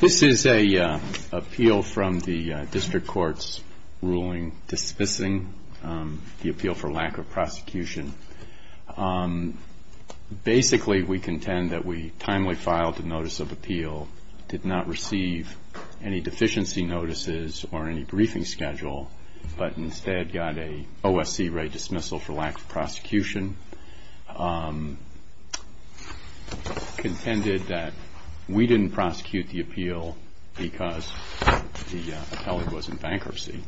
This is an appeal from the district court's ruling dismissing the appeal for lack of prosecution. Basically, we contend that we timely filed a notice of appeal, did not receive any deficiency notices or any briefing schedule, but instead got an OSC rate dismissal for lack of prosecution. We contended that we didn't prosecute the appeal because the appellant was in bankruptcy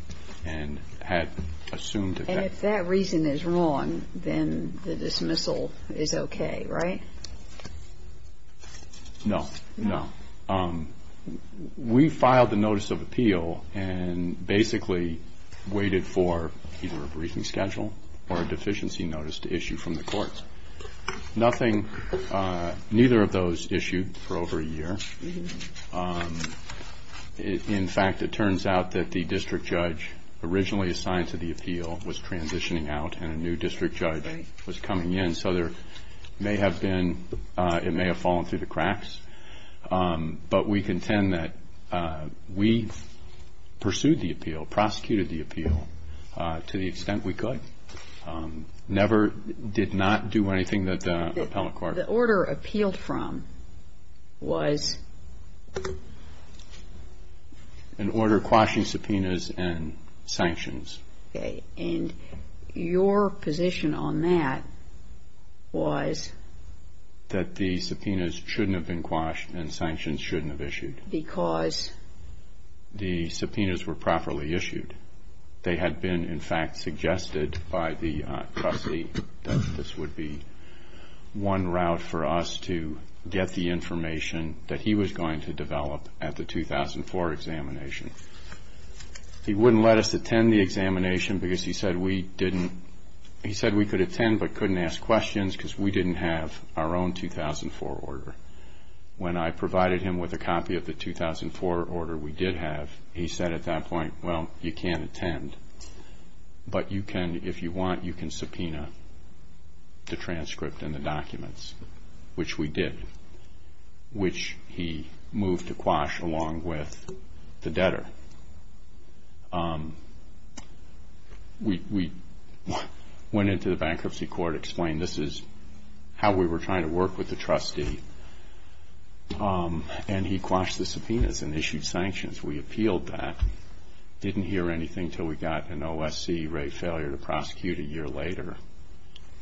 and had assumed... And if that reason is wrong, then the dismissal is okay, right? No, no. We filed the notice of appeal and basically waited for either a briefing schedule or a deficiency notice to issue from the courts. Neither of those issued for over a year. In fact, it turns out that the district judge originally assigned to the appeal was transitioning out and a new district judge was coming in, so it may have fallen through the cracks. But we contend that we pursued the appeal, prosecuted the appeal to the extent we could, never did not do anything that the appellant court... The order appealed from was... An order quashing subpoenas and sanctions. Okay. And your position on that was... That the subpoenas shouldn't have been quashed and sanctions shouldn't have issued. Because... The subpoenas were properly issued. They had been, in fact, suggested by the trustee that this would be one route for us to get the information that he was going to develop at the 2004 examination. He wouldn't let us attend the examination because he said we didn't... When I provided him with a copy of the 2004 order we did have, he said at that point, well, you can't attend, but you can, if you want, you can subpoena the transcript and the documents, which we did, which he moved to quash along with the debtor. We went into the bankruptcy court, explained this is how we were trying to work with the trustee, and he quashed the subpoenas and issued sanctions. We appealed that, didn't hear anything until we got an OSC rate failure to prosecute a year later,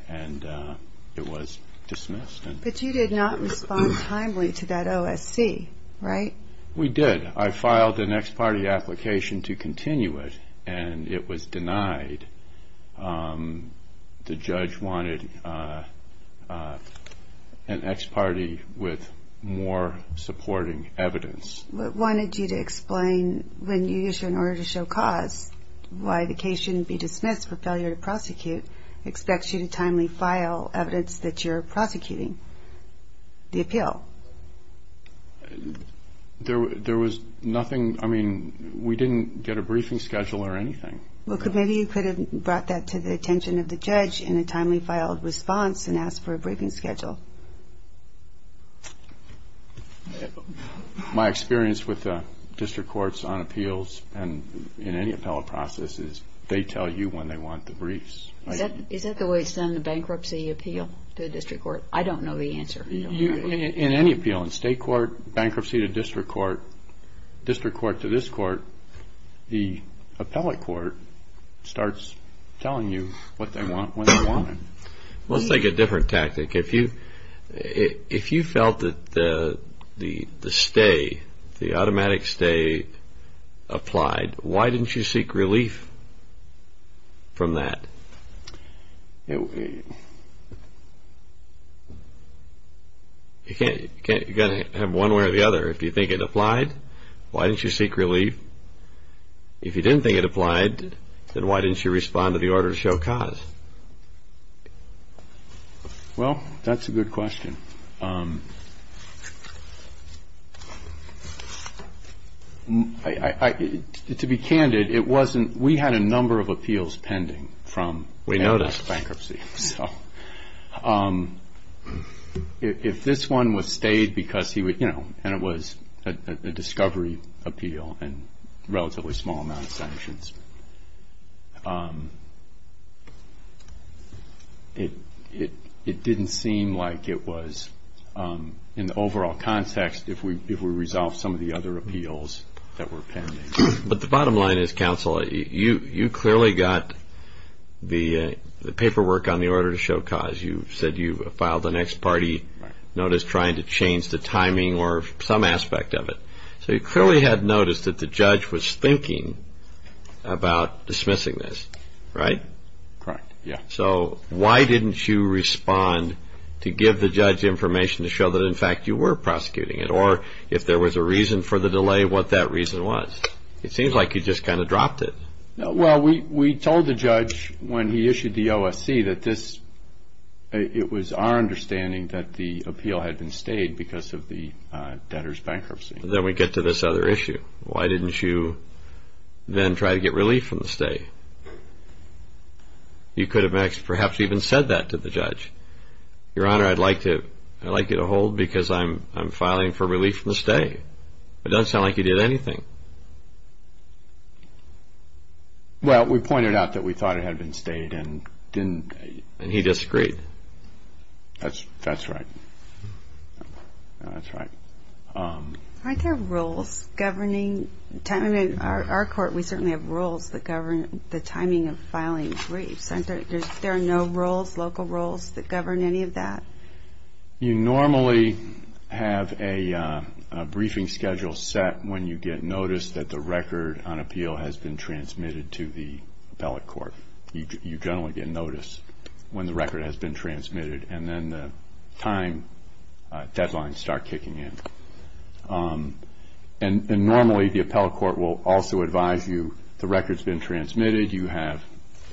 and it was dismissed. But you did not respond timely to that OSC, right? We did. I filed an ex parte application to continue it, and it was denied. The judge wanted an ex parte with more supporting evidence. What wanted you to explain when you issued an order to show cause, why the case shouldn't be dismissed for failure to prosecute, timely file evidence that you're prosecuting the appeal? There was nothing. I mean, we didn't get a briefing schedule or anything. Well, maybe you could have brought that to the attention of the judge in a timely filed response and asked for a briefing schedule. My experience with district courts on appeals and in any appellate process is they tell you when they want the briefs. Is that the way it's done in a bankruptcy appeal to a district court? I don't know the answer. In any appeal, in state court, bankruptcy to district court, district court to this court, the appellate court starts telling you what they want when they want it. Let's take a different tactic. If you felt that the stay, the automatic stay applied, why didn't you seek relief from that? You've got to have one way or the other. If you think it applied, why didn't you seek relief? If you didn't think it applied, then why didn't you respond to the order to show cause? Well, that's a good question. To be candid, we had a number of appeals pending from bankruptcy. We noticed. If this one was stayed because he would, you know, and it was a discovery appeal and relatively small amount of sanctions, it didn't seem like it was in the overall context if we resolved some of the other appeals that were pending. But the bottom line is, counsel, you clearly got the paperwork on the order to show cause. You said you filed the next party notice trying to change the timing or some aspect of it. So you clearly had noticed that the judge was thinking about dismissing this, right? Correct, yeah. So why didn't you respond to give the judge information to show that, in fact, you were prosecuting it? Or if there was a reason for the delay, what that reason was? It seems like you just kind of dropped it. Well, we told the judge when he issued the OSC that this, it was our understanding that the appeal had been stayed because of the debtor's bankruptcy. Then we get to this other issue. Why didn't you then try to get relief from the stay? You could have perhaps even said that to the judge. Your Honor, I'd like you to hold because I'm filing for relief from the stay. It doesn't sound like you did anything. Well, we pointed out that we thought it had been stayed and didn't. And he disagreed. That's right. That's right. Aren't there rules governing timing? In our court, we certainly have rules that govern the timing of filing briefs. There are no rules, local rules, that govern any of that. You normally have a briefing schedule set when you get notice that the record on appeal has been transmitted to the appellate court. You generally get notice when the record has been transmitted, and then the time deadlines start kicking in. And normally, the appellate court will also advise you, the record's been transmitted, you have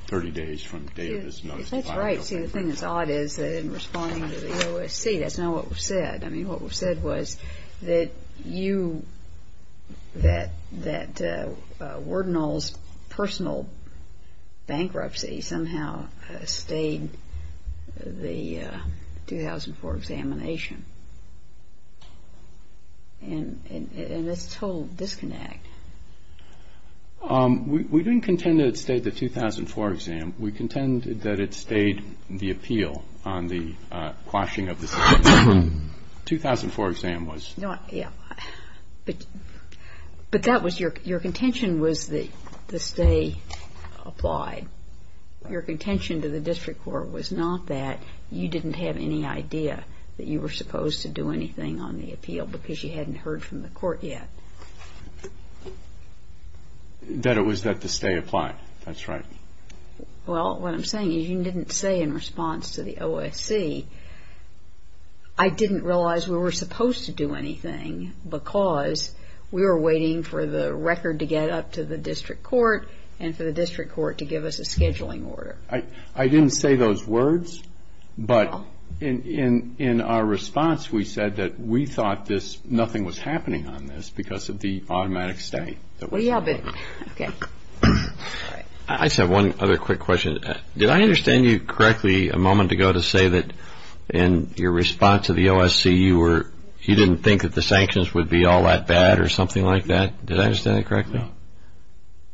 30 days from the date of this notice. That's right. See, the thing that's odd is that in responding to the OSC, that's not what was said. I mean, what was said was that you, that wardenals' personal bankruptcy somehow stayed the 2004 examination. And it's a total disconnect. We didn't contend that it stayed the 2004 exam. We contended that it stayed the appeal on the quashing of the 2004 exam. But that was your contention was that the stay applied. Your contention to the district court was not that you didn't have any idea that you were supposed to do anything on the appeal because you hadn't heard from the court yet. That it was that the stay applied. That's right. Well, what I'm saying is you didn't say in response to the OSC, I didn't realize we were supposed to do anything because we were waiting for the record to get up to the district court and for the district court to give us a scheduling order. I didn't say those words, but in our response, we said that we thought nothing was happening on this because of the automatic stay. Okay. I just have one other quick question. Did I understand you correctly a moment ago to say that in your response to the OSC, you didn't think that the sanctions would be all that bad or something like that? Did I understand that correctly?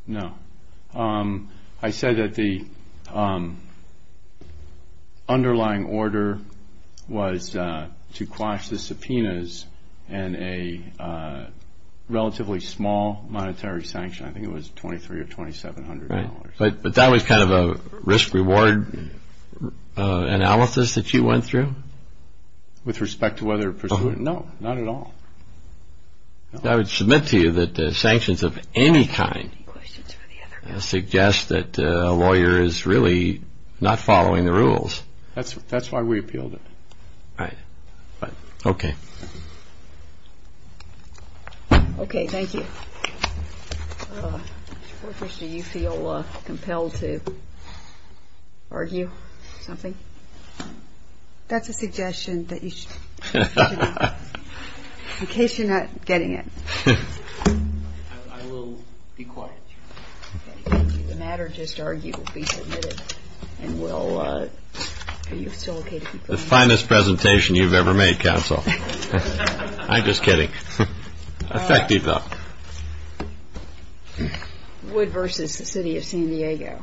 No. I said that the underlying order was to quash the subpoenas and a relatively small monetary sanction. I think it was $2,300 or $2,700. Right. But that was kind of a risk-reward analysis that you went through? With respect to whether it pursued it? No, not at all. I would submit to you that sanctions of any kind suggest that a lawyer is really not following the rules. That's why we appealed it. Right. Okay. Okay. Thank you. Mr. Porter, do you feel compelled to argue something? That's a suggestion that you should make. In case you're not getting it. I will be quiet. The matter just argued will be submitted and we'll – are you still okay to keep going? The finest presentation you've ever made, counsel. I'm just kidding. Effective, though. Wood versus the City of San Diego.